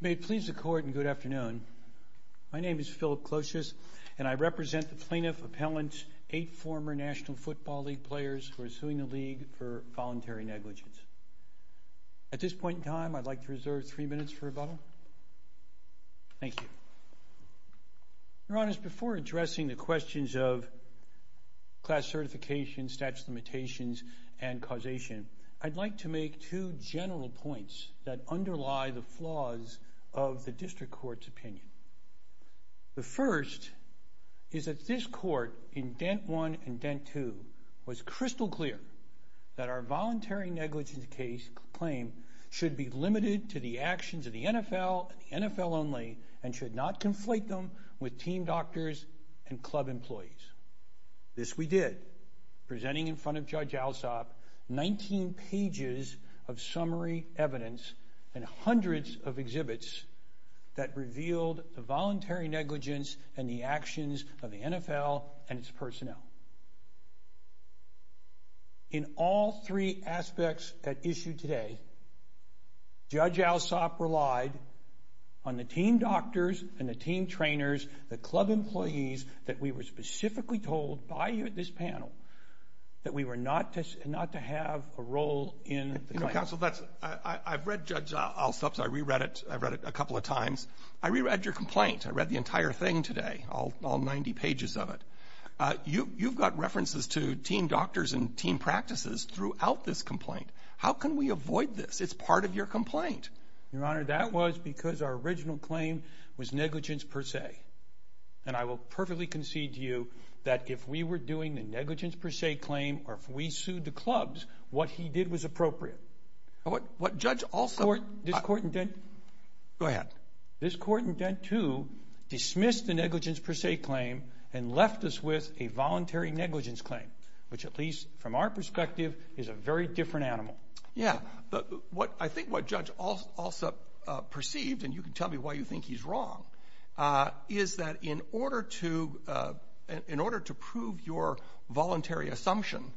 May it please the Court, and good afternoon. My name is Philip Clotius, and I represent the Plaintiff Appellant's eight former National Football League players who are suing the league for voluntary negligence. At this point in time, I'd like to reserve three minutes for rebuttal. Thank you. Your Honors, before addressing the questions of class certification, statute of limitations, and causation, I'd like to make two general points that underlie the flaws of the District Court's opinion. The first is that this Court in Dent I and Dent II was crystal clear that our voluntary negligence claim should be limited to the actions of the NFL and the NFL only, and should not conflate them with team doctors and club employees. This we did, presenting in front of Judge Alsop 19 pages of summary evidence and hundreds of exhibits that revealed the voluntary negligence and the actions of the NFL and its personnel. In all three aspects at issue today, Judge Alsop relied on the team doctors and the team trainers, the club employees, that we were specifically told by this panel that we were not to have a role in the claim. Counsel, I've read Judge Alsop's I re-read it, I've read it a couple of times. I re-read your complaint. I read the entire thing today, all 90 pages of it. You've got references to team doctors and team practices throughout this complaint. How can we avoid this? It's part of your complaint. Your Honor, that was because our original claim was negligence per se. I will perfectly concede to you that if we were doing the negligence per se claim, or if we sued the clubs, what he did was appropriate. What Judge Alsop... This Court in Dent... Go ahead. This Court in Dent II dismissed the negligence per se claim and left us with a voluntary negligence claim, which at least from our perspective is a very different animal. Yeah. I think what Judge Alsop perceived, and you can tell me why you think he's wrong, is that in order to prove your voluntary assumption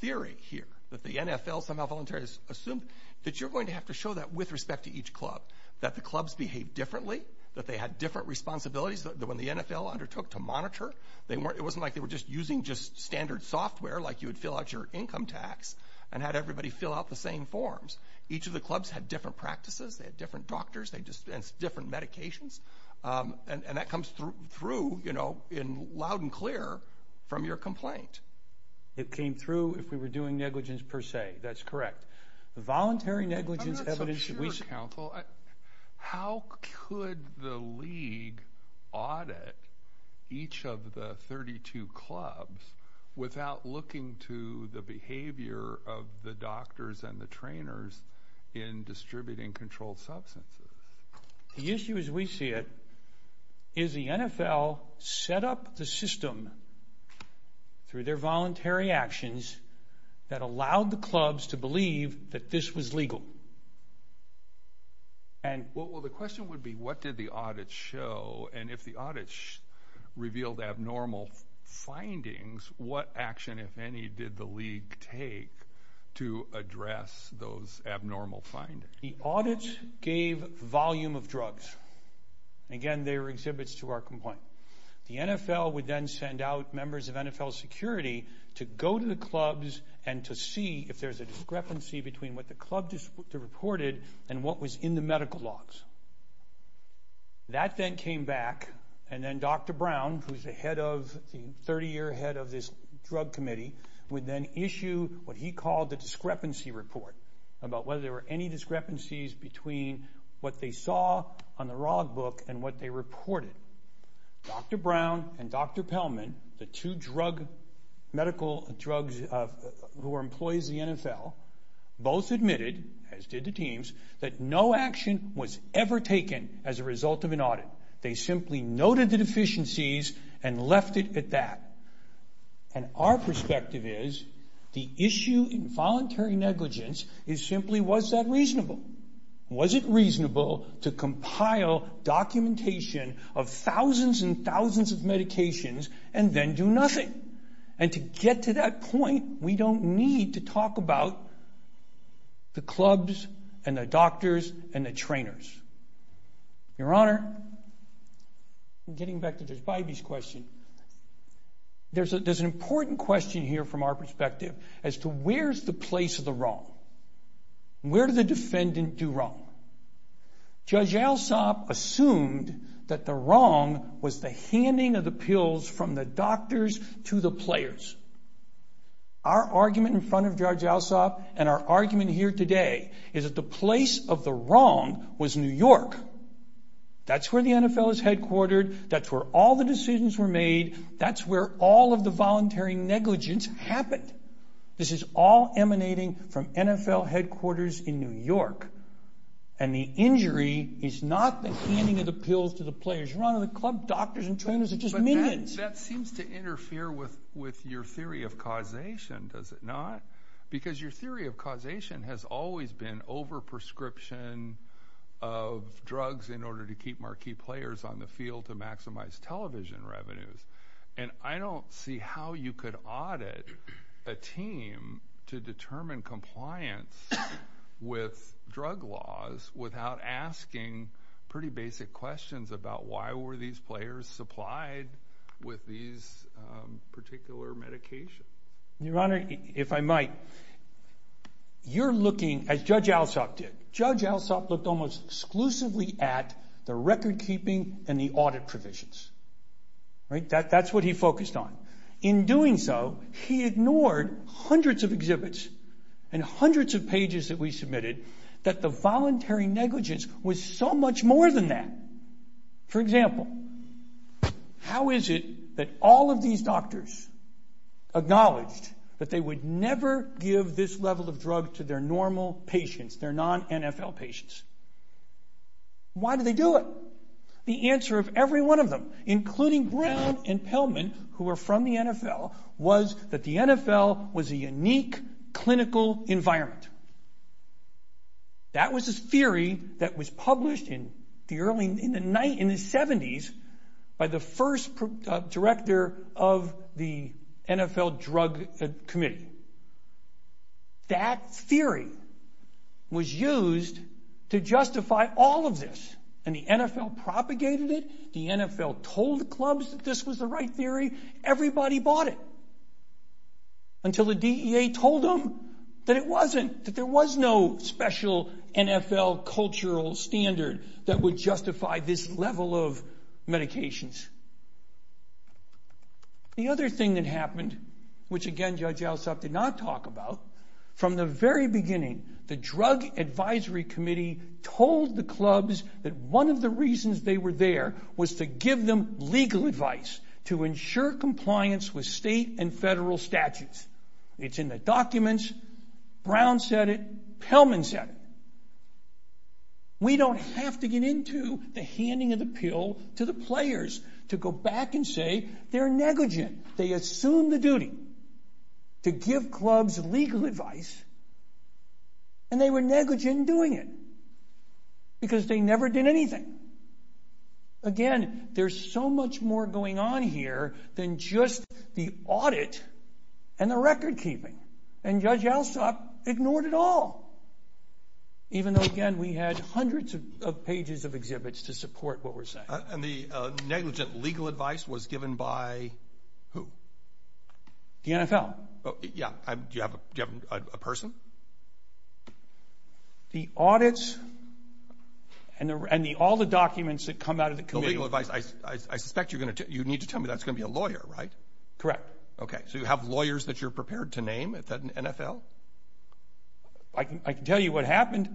theory here, that the NFL somehow voluntarily assumed that you're going to have to show that with respect to each club, that the clubs behave differently, that they had different responsibilities than when the NFL undertook to monitor. It wasn't like they were just using just standard software, like you would your income tax, and had everybody fill out the same forms. Each of the clubs had different practices. They had different doctors. They dispensed different medications. That comes through loud and clear from your complaint. It came through if we were doing negligence per se. That's correct. The voluntary negligence evidence... I'm not so sure, counsel. How could the league audit each of the 32 clubs without looking to the behavior of the doctors and the trainers in distributing controlled substances? The issue as we see it is the NFL set up the system through their voluntary actions that allowed the clubs to believe that this was legal. The question would be, what did the audit show? If the audit revealed abnormal findings, what action, if any, did the league take to address those abnormal findings? The audits gave volume of drugs. Again, they were exhibits to our complaint. The NFL would then send out members of NFL security to go to the clubs and to see if there's a discrepancy between what the club reported and what was in the medical logs. That then came back, and then Dr. Brown, who's the 30-year head of this drug committee, would then issue what he called the discrepancy report, about whether there were any discrepancies between what they saw on the log book and what they reported. Dr. Brown and Dr. Pellman, the two medical drugs who were employees of the NFL, both admitted, as did the teams, that no action was ever taken as a result of an audit. They simply noted the deficiencies and left it at that. Our perspective is, the issue in voluntary negligence is simply, was that reasonable? Was it reasonable to compile documentation of thousands and thousands of medications and then do nothing? To get to that point, we don't need to talk about the clubs and the doctors and the trainers. Your Honor, getting back to Judge Bybee's question, there's an important question here from our perspective as to where's the place of the wrong? Where did the defendant do wrong? Judge Alsop assumed that the wrong was the handing of the pills from the doctors to the players. Our argument in front of Judge Alsop and our place of the wrong was New York. That's where the NFL is headquartered. That's where all the decisions were made. That's where all of the voluntary negligence happened. This is all emanating from NFL headquarters in New York. The injury is not the handing of the pills to the players. Your Honor, the club doctors and trainers are just minions. That seems to interfere with your theory of causation, does it not? Because your theory of causation has always been over prescription of drugs in order to keep marquee players on the field to maximize television revenues. I don't see how you could audit a team to determine compliance with drug laws without asking pretty basic questions about why were these players supplied with these particular medications. Your Honor, if I might, you're looking as Judge Alsop did. Judge Alsop looked almost exclusively at the record keeping and the audit provisions. That's what he focused on. In doing so, he ignored hundreds of exhibits and hundreds of pages that we submitted that the voluntary negligence was so much more than that. For example, how is it that all of these doctors acknowledged that they would never give this level of drug to their normal patients, their non-NFL patients? Why did they do it? The answer of every one of them, including Brown and Pellman, who are from the NFL, was that the NFL was a unique clinical environment. That was a theory that was published in the 70s by the first director of the NFL Drug Committee. That theory was used to justify all of this. The NFL propagated it. The NFL told the clubs that this was the right theory. Everybody bought it until the DEA told them that it wasn't, that there was no special NFL cultural standard that would justify this level of medications. The other thing that happened, which again Judge Alsop did not talk about, from the very beginning, the Drug Advisory Committee told the clubs that one of the reasons they were there was to give them legal advice to ensure compliance with state and federal statutes. It's in the We don't have to get into the handing of the pill to the players to go back and say they're negligent. They assume the duty to give clubs legal advice and they were negligent in doing it because they never did anything. Again, there's so much more going on here than just the audit and the record keeping. And Judge Alsop ignored it all, even though again we had hundreds of pages of exhibits to support what we're saying. And the negligent legal advice was given by who? The NFL. Yeah. Do you have a person? The audits and all the documents that come out of the committee. The legal advice, I suspect you need to tell me that's going to be a lawyer, right? Correct. Okay, so you have lawyers that you're prepared to name at the NFL? I can tell you what happened.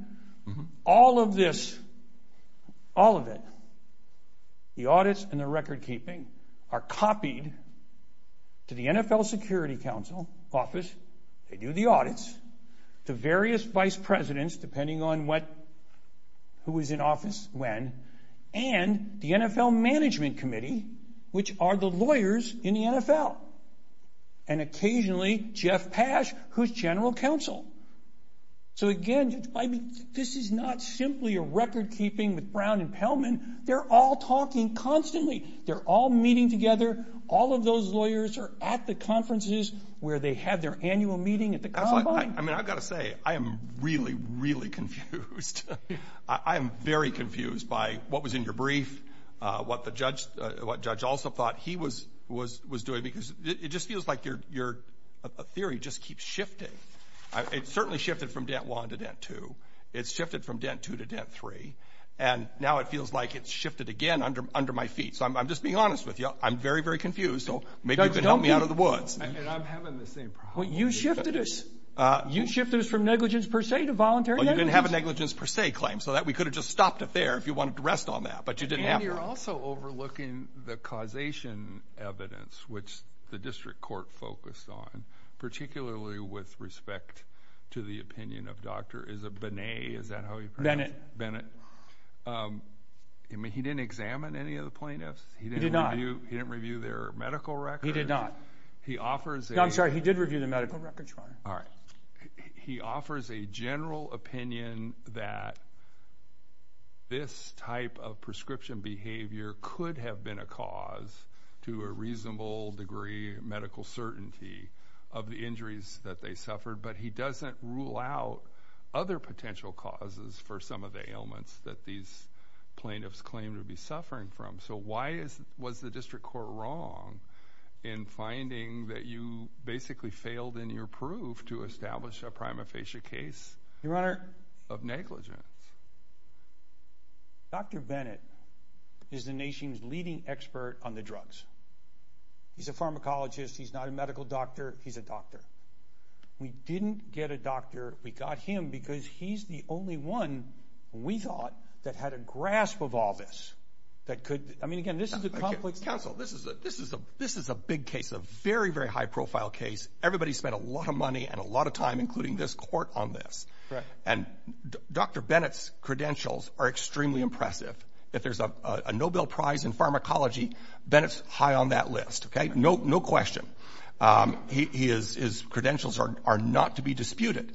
All of this, all of it, the audits and the record keeping are copied to the NFL Security Council office. They do the audits to various vice presidents, depending on who is in office, when, and the NFL Management Committee, which are the lawyers in the NFL. And occasionally, Jeff Pash, who's general counsel. So again, this is not simply a record keeping with Brown and Pellman. They're all talking constantly. They're all meeting together. All of those lawyers are at the conferences where they have their annual meeting at the combine. I mean, I've got to say, I am really, really confused. I am very confused by what was in your brief, what the judge also thought he was doing, because it just feels like your theory just keeps shifting. It certainly shifted from dent one to dent two. It's shifted from dent two to dent three. And now it feels like it's shifted again under my feet. So I'm just being honest with you. I'm very, very confused. So maybe you can help me out of the woods. You shifted us. You shifted us from negligence per se to voluntary negligence. You didn't have a negligence per se claim so that we could have just stopped it there if you wanted to rest on that. But you didn't have to. And you're also overlooking the causation evidence, which the district court focused on, particularly with respect to the opinion of Dr. Benet. I mean, he didn't examine any of the plaintiffs. He did not. He didn't review their medical records. He did not. I'm sorry, he did not. This type of prescription behavior could have been a cause to a reasonable degree of medical certainty of the injuries that they suffered. But he doesn't rule out other potential causes for some of the ailments that these plaintiffs claim to be suffering from. So why was the district court wrong in finding that you basically failed in your proof to establish a prima facie case of negligence? Dr. Benet is the nation's leading expert on the drugs. He's a pharmacologist. He's not a medical doctor. He's a doctor. We didn't get a doctor. We got him because he's the only one, we thought, that had a grasp of all this. I mean, again, this is a complex... Counsel, this is a big case, a very, very high-profile case. Everybody spent a lot of money and a lot of time, including this case. His credentials are extremely impressive. If there's a Nobel Prize in pharmacology, Benet's high on that list, okay? No question. His credentials are not to be disputed,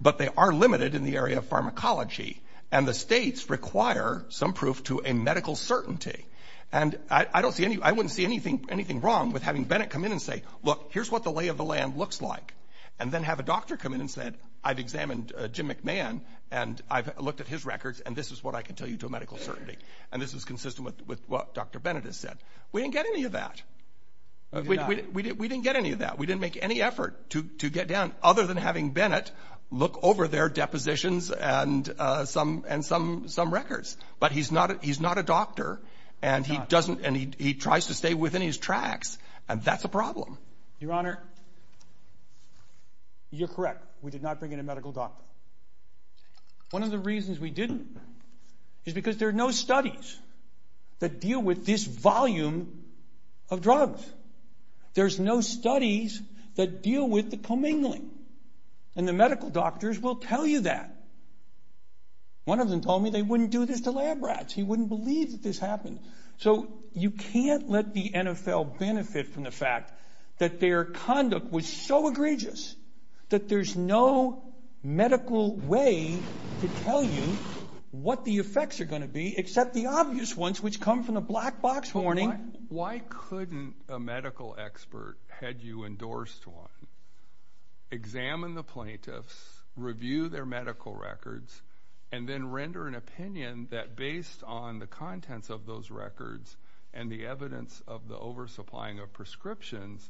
but they are limited in the area of pharmacology, and the states require some proof to a medical certainty. And I don't see any... I wouldn't see anything wrong with having Benet come in and say, look, here's what the lay of the land looks like, and then have a doctor come in and say, I've examined Jim McMahon, and I've looked at his records, and this is what I can tell you to a medical certainty. And this is consistent with what Dr. Benet has said. We didn't get any of that. We didn't get any of that. We didn't make any effort to get down, other than having Benet look over their depositions and some records. But he's not a doctor, and he tries to stay within his tracks, and that's a problem. Your Honor, you're correct. We did not bring in a medical doctor. One of the reasons we didn't is because there are no studies that deal with this volume of drugs. There's no studies that deal with the commingling, and the medical doctors will tell you that. One of them told me they wouldn't do this to lab rats. He wouldn't believe that this happened. So you can't let the NFL benefit from the fact that their conduct was so egregious that there's no medical way to tell you what the effects are going to be, except the obvious ones, which come from the black box warning. Why couldn't a medical expert, had you endorsed one, examine the plaintiffs, review their medical records, and then render an opinion that based on the contents of those records and the evidence of the oversupplying of prescriptions,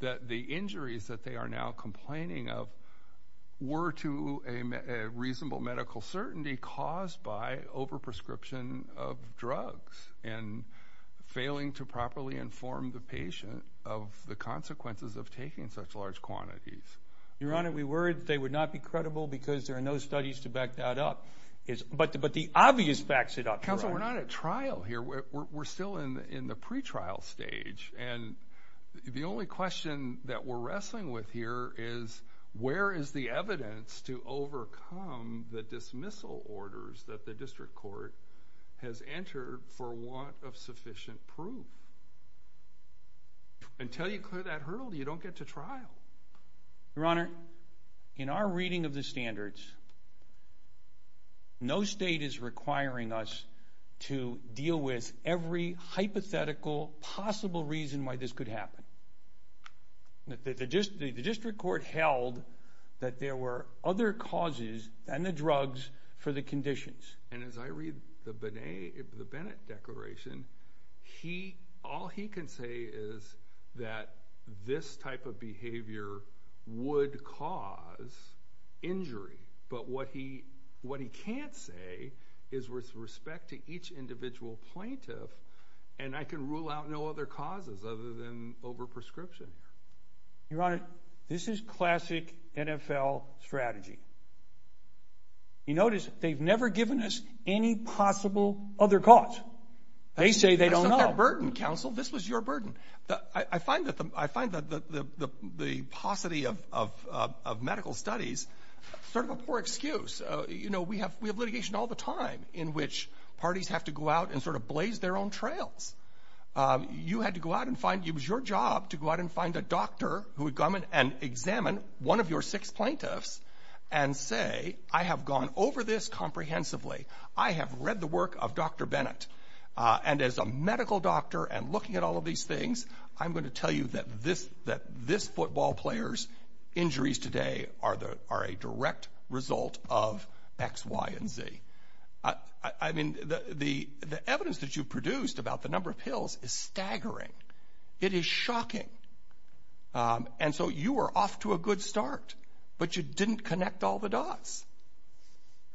that the injuries that they are now complaining of were to a reasonable medical certainty caused by overprescription of drugs and failing to properly inform the patient of the consequences of taking such large quantities? Your Honor, we worried they would not be credible because there are no studies to back that up, but the obvious backs it up. Counsel, we're not at trial here. We're still in the pretrial stage, and the only question that we're wrestling with here is, where is the evidence to overcome the dismissal orders that the district court has entered for want of sufficient proof? Until you clear that hurdle, you don't get to trial. Your Honor, in our reading of the standards, no state is requiring us to deal with every hypothetical possible reason why this could happen. The district court held that there were other causes than the drugs for the conditions. And as I read the Bennett Declaration, all he can say is that this type of behavior would cause injury, but what he can't say is with respect to each individual plaintiff, and I can rule out no other causes other than overprescription. Your Honor, this is classic NFL strategy. You notice they've never given us any possible other cause. They say they don't know. That's not their burden, Counsel. This was your burden. I find that the paucity of medical studies is sort of a poor excuse. You know, we have litigation all the time in which parties have to go out and sort of blaze their own trails. You had to go out and find, it was your job to go and examine one of your six plaintiffs and say, I have gone over this comprehensively. I have read the work of Dr. Bennett. And as a medical doctor and looking at all of these things, I'm going to tell you that this football player's injuries today are a direct result of X, Y, and Z. I mean, the evidence that you've produced about the number of pills is staggering. It is shocking. Um, and so you were off to a good start, but you didn't connect all the dots.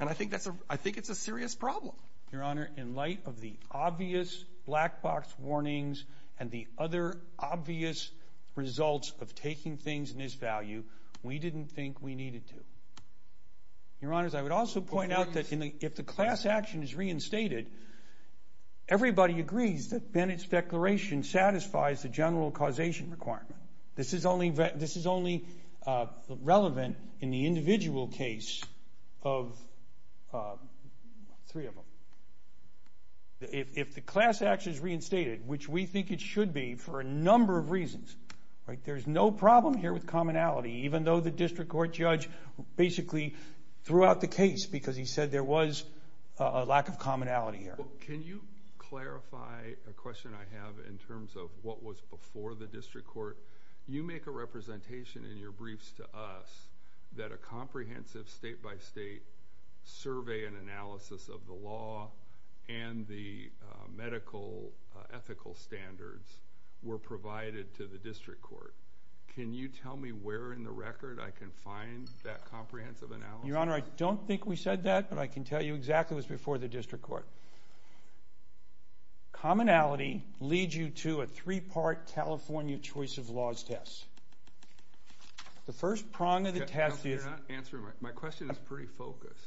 And I think that's a, I think it's a serious problem. Your Honor, in light of the obvious black box warnings and the other obvious results of taking things in his value, we didn't think we needed to. Your Honors, I would also point out that if the class action is reinstated, everybody agrees that Bennett's declaration satisfies the general causation requirement. This is only relevant in the individual case of three of them. If the class action is reinstated, which we think it should be for a number of reasons, right, there's no problem here with commonality, even though the district court judge basically threw out the case because he said there was a lack of commonality here. Can you clarify a question I have in terms of what was before the district court? You make a representation in your briefs to us that a comprehensive state by state survey and analysis of the law and the medical ethical standards were provided to the district court. Can you tell me where in the record I can find that comprehensive analysis? Your Honor, I don't think we said that, but I can tell you exactly what's before the district court. Commonality leads you to a three-part California choice of laws test. The first prong of the test is... My question is pretty focused.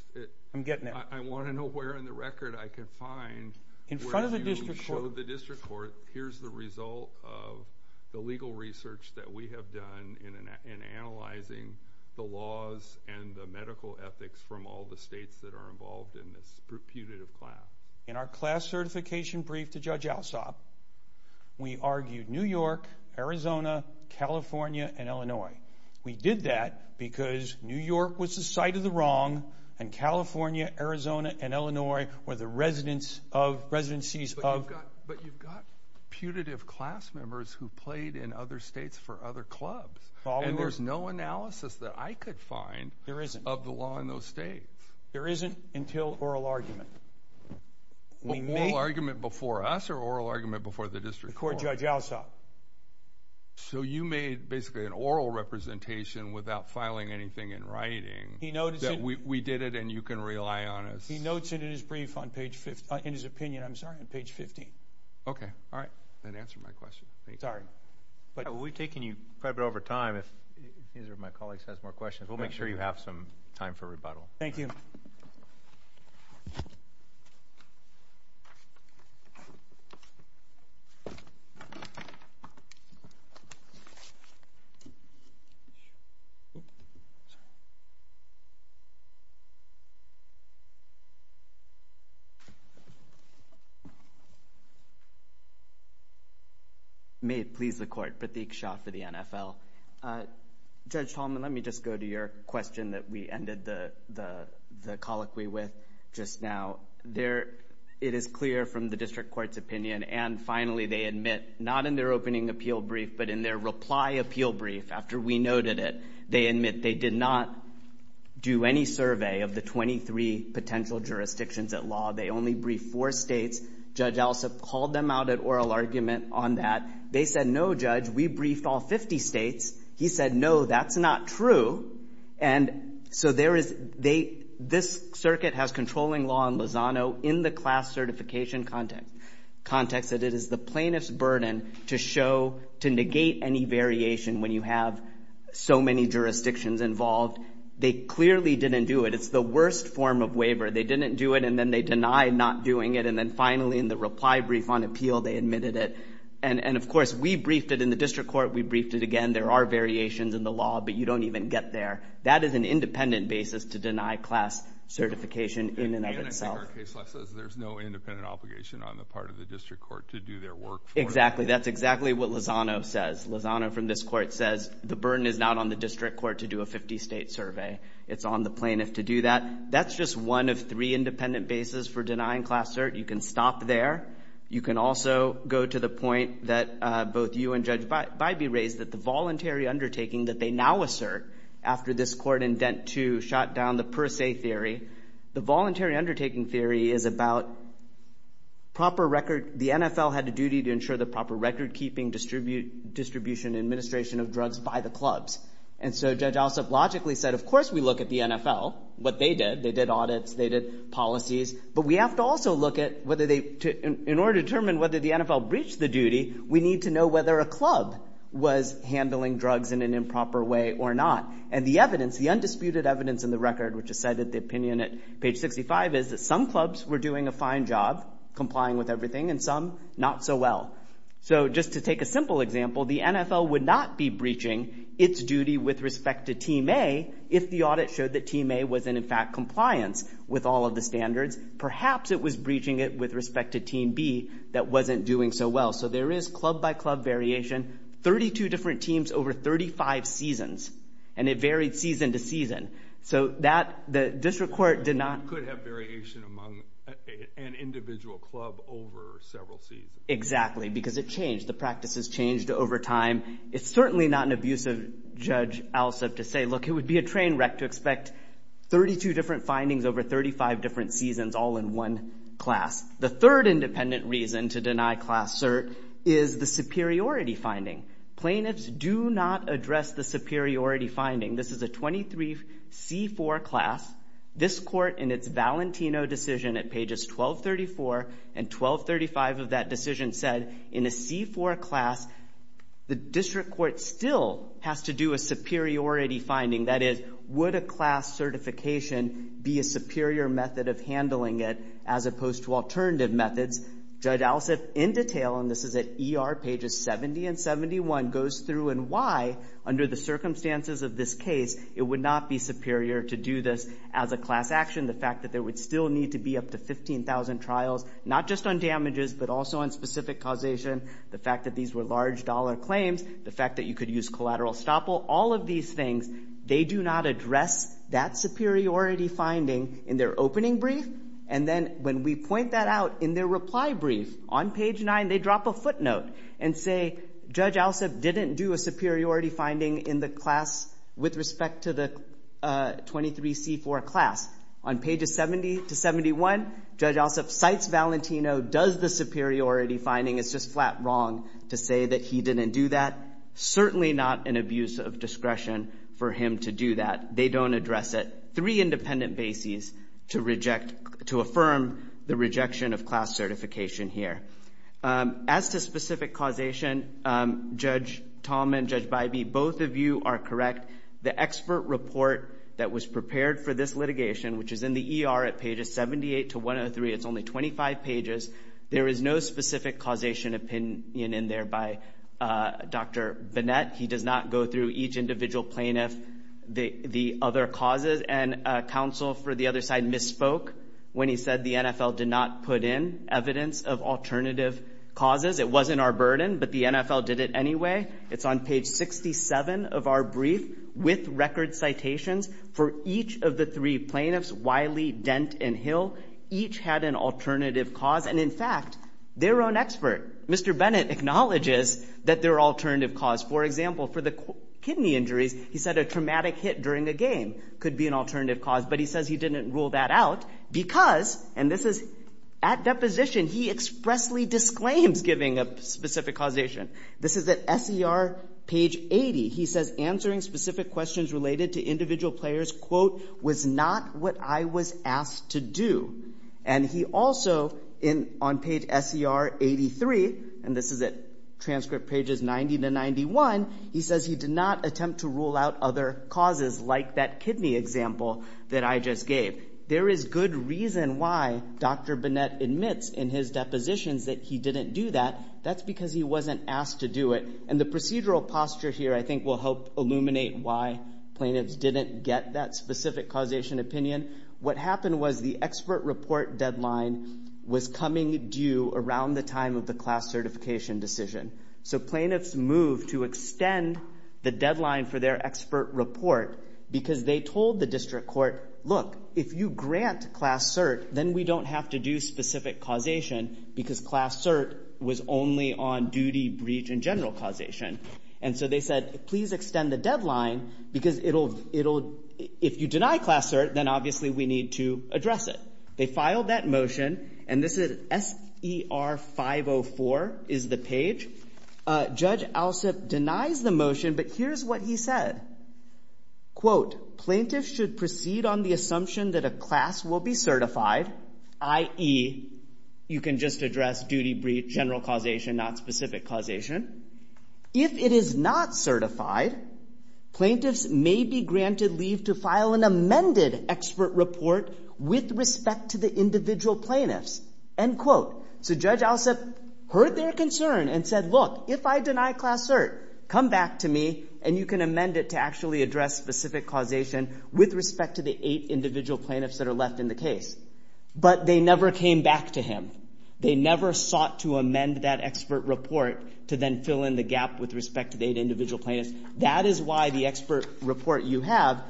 I'm getting there. I want to know where in the record I can find... In front of the district court, here's the result of the legal research that we have done in analyzing the laws and the medical ethics from all the states that are involved in this putative class. In our class certification brief to Judge Alsop, we argued New York, Arizona, California, and Illinois. We did that because New York was the site of the wrong, and California, Arizona, and Illinois were the residencies of... But you've got putative class members who played in other states for other clubs, and there's no analysis that I could find of the law in those states. There isn't until oral argument. Oral argument before us or oral argument before the district court? Court Judge Alsop. So you made basically an oral representation without filing anything in writing. He notes it. We did it, and you can rely on us. He notes it in his opinion on page 15. Okay. All right. That answered my question. Sorry. We've taken you quite a bit over time. If either of my colleagues has more questions, we'll make sure you have some time for rebuttal. Thank you. May it please the Court. Pratik Shah for the NFL. Judge Tallman, let me just go to your question that we ended the colloquy with just now. It is clear from the district court's opinion, and finally they admit, not in their opening appeal brief, but in their reply appeal brief after we noted it, they admit they did not do any survey of the 23 potential jurisdictions at law. They only briefed four states. Judge Alsop called them out at oral argument on that. They said, no, Judge, we briefed all 50 states. He said, no, that's not true. And so this circuit has controlling law in Lozano in the class certification context that it is the plaintiff's burden to show, to negate any variation when you have so many jurisdictions involved. They clearly didn't do it. It's the worst form of waiver. They didn't do it, and then they denied not doing it. And then finally in the reply brief on appeal, they admitted it. And of course, we briefed it in the district court. We briefed it again. There are variations in the law, but you don't even get there. That is an independent basis to deny class certification in and of itself. Again, I think our case law says there's no independent obligation on the part of the district court to do their work. Exactly. That's exactly what Lozano says. Lozano from this court says the burden is not on the district court to do a 50-state survey. It's on the plaintiff to do that. That's just one of three independent bases for denying class cert. You can stop there. You can also go to the point that both you and Judge Bybee raised that the voluntary undertaking that they now assert after this court in Dent 2 shot down the per se theory, the voluntary undertaking theory is about proper record. The NFL had a duty to ensure the proper recordkeeping, distribution, and administration of drugs by the clubs. And so Judge Alsup logically said, of course we look at the NFL, what they did. They did audits. They did policies. But we have to also look at whether they, in order to determine whether the NFL breached the duty, we need to know whether a club was handling drugs in an improper way or not. And the evidence, the undisputed evidence in the record which has cited the opinion at page 65 is that some clubs were doing a fine job complying with everything and some not so well. So just to take a simple example, the NFL would not be breaching its duty with respect to Team A if the audit showed that Team A was in, in fact, compliance with all of the standards. Perhaps it was breaching it with respect to Team B that wasn't doing so well. So there is club by club variation, 32 different teams over 35 seasons, and it varied season to season. So that, the district court did not... It could have variation among an individual club over several seasons. Exactly, because it changed. The practices changed over time. It's certainly not an abusive Judge Alsup to say, look, it would be a train wreck to expect 32 different findings over 35 different seasons all in one class. The third independent reason to deny class cert is the superiority finding. This is a 23C4 class. This court in its Valentino decision at pages 1234 and 1235 of that decision said in a C4 class, the district court still has to do a superiority finding. That is, would a class certification be a superior method of handling it as opposed to alternative methods? Judge Alsup in detail, and this is at ER pages 70 and 71, goes through and why, under the circumstances of this case, it would not be superior to do this as a class action. The fact that there would still need to be up to 15,000 trials, not just on damages, but also on specific causation. The fact that these were large dollar claims. The fact that you could use collateral estoppel. All of these things, they do not address that superiority finding in their opening brief. And then when we point that out in their reply brief, on page 9, they drop a footnote and say, Judge Alsup didn't do a superiority finding in the class with respect to the 23C4 class. On pages 70 to 71, Judge Alsup cites Valentino, does the superiority finding. It's just flat wrong to say that he didn't do that. Certainly not an abuse of discretion for him to do that. They don't address it. Three independent bases to reject, to affirm the rejection of class certification here. As to specific causation, Judge Tallman, Judge Bybee, both of you are correct. The expert report that was prepared for this litigation, which is in the ER at pages 78 to 103, it's only 25 pages, there is no specific causation opinion in there by Dr. Bennett. He does not go through each individual plaintiff, the other causes, and counsel for the other side misspoke when he said the NFL did not put in evidence of alternative causes. It wasn't our burden, but the NFL did it anyway. It's on page 67 of our brief with record citations for each of the three plaintiffs, Wiley, Dent, and Hill, each had an alternative cause. And in fact, their own expert, Mr. Bennett, acknowledges that their alternative cause, for example, for the kidney injuries, he said a traumatic hit during a game could be an alternative cause. But he says he didn't rule that out because, and this is at deposition, he expressly disclaims giving a specific causation. This is at SER page 80. He says answering specific questions related to individual players, quote, was not what I was asked to do. And he also, on page SER 83, and this is at transcript pages 90 to 91, he says he did not attempt to rule out other causes like that kidney example that I just gave. There is good reason why Dr. Bennett admits in his depositions that he didn't do that. That's because he wasn't asked to do it. And the procedural posture here I think will help illuminate why plaintiffs didn't get that specific causation opinion. What happened was the expert report deadline was coming due around the time of the class certification decision. So plaintiffs moved to extend the deadline for their expert report because they told the district court, look, if you grant class cert, then we don't have to do specific causation because class cert was only on duty, breach, and general causation. And so they said, please extend the deadline because it'll, if you deny class cert, then obviously we need to address it. They filed that motion, and this is SER 504 is the page. Judge Alsup denies the motion, but here's what he said. Quote, plaintiffs should proceed on the assumption that a class will be certified, i.e., you can just address duty, breach, general causation, not specific causation. If it is not certified, plaintiffs may be granted leave to file an amended expert report with respect to the individual plaintiffs. End quote. So Judge Alsup made a concern and said, look, if I deny class cert, come back to me and you can amend it to actually address specific causation with respect to the eight individual plaintiffs that are left in the case. But they never came back to him. They never sought to amend that expert report to then fill in the gap with respect to the eight individual plaintiffs. That is why the expert report you have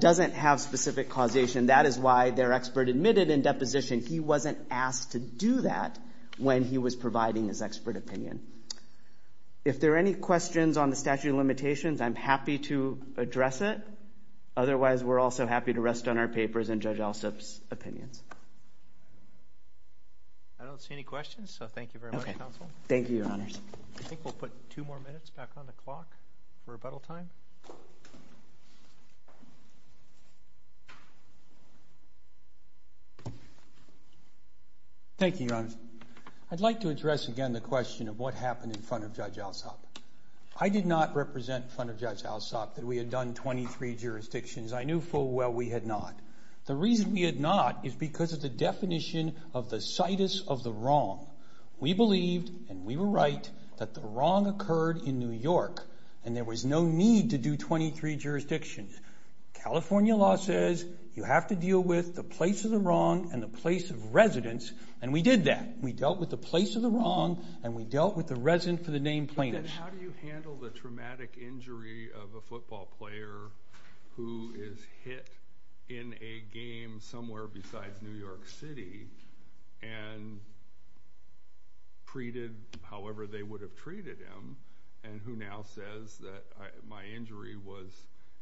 doesn't have specific causation. That is why their expert admitted in deposition he wasn't asked to do that when he was providing his expert opinion. If there are any questions on the statute of limitations, I'm happy to address it. Otherwise, we're also happy to rest on our papers and Judge Alsup's opinions. I don't see any questions, so thank you very much, counsel. Thank you, your honors. I think we'll put two more minutes back on the clock for rebuttal time. Thank you, your honors. I'd like to address again the question of what happened in front of Judge Alsup. I did not represent in front of Judge Alsup that we had done 23 jurisdictions. I knew full well we had not. The reason we had not is because of the definition of the situs of the wrong. We believed, and we were right, that the wrong occurred in New York, and there was no need to do 23 jurisdictions. California law says you have to deal with the place of the wrong and the place of residence, and we did that. We dealt with the place of the wrong, and we dealt with the resident for the name plaintiff. How do you handle the traumatic injury of a football player who is hit in a game somewhere besides New York City and treated however they would have treated him, and who now says that my injury was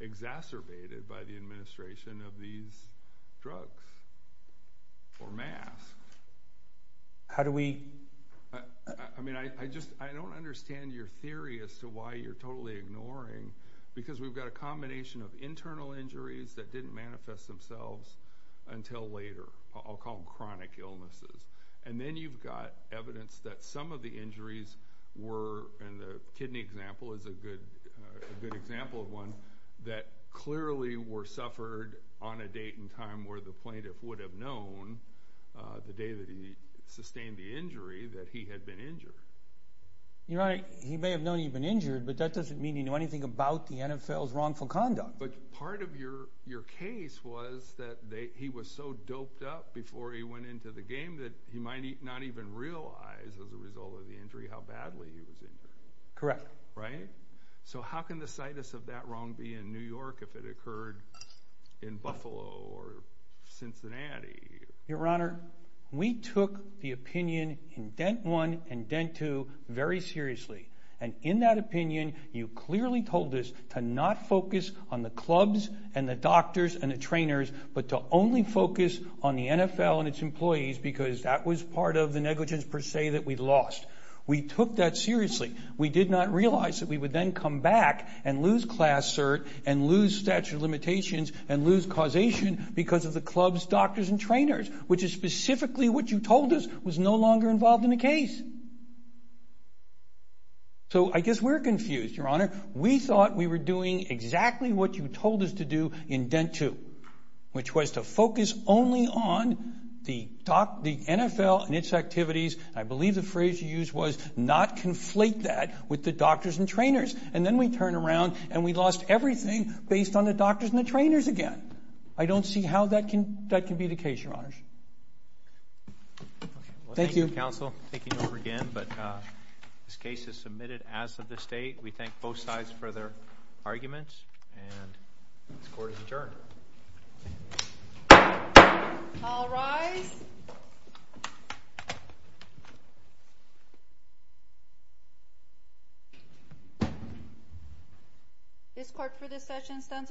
exacerbated by the administration of these drugs or masks? How do we? I mean, I just, I don't understand your theory as to why you're totally ignoring, because we've got a combination of internal injuries that didn't manifest themselves until later. I'll call them chronic illnesses, and then you've got evidence that some of the injuries were, and the kidney example is a good example of one, that clearly were suffered on a date and time where the plaintiff would have known the day that he sustained the injury that he had been injured. Your Honor, he may have known he'd been injured, but that doesn't mean you know anything about the NFL's wrongful conduct. But part of your case was that he was so doped up before he went into the game that he might not even realize as a result of the injury how badly he was injured. Correct. Right? So how can the situs of that wrong be in New York if it occurred in Buffalo or Cincinnati? Your Honor, we took the opinion in Dent 1 and Dent 2 very seriously, and in that opinion, you clearly told us to not focus on the clubs and the doctors and the trainers, but to only focus on the NFL and its employees because that was part of the negligence per se that we lost. We took that seriously. We did not realize that we would then come back and lose class cert and lose statute of limitations and lose causation because of the clubs, doctors, and trainers, which is specifically what you told us was no longer involved in the case. So I guess we're confused, Your Honor. We thought we were doing exactly what you told us to do in Dent 2, which was to focus only on the NFL and its activities. I believe the phrase you used was not conflate that with the doctors and trainers. And then we turn around and we lost everything based on the doctors and the trainers again. I don't see how that can be the case, Your Honors. Thank you, Counsel, taking over again. But this case is submitted as of this date. We thank both sides for their arguments, and this court is adjourned. All rise. This court for this session stands adjourned.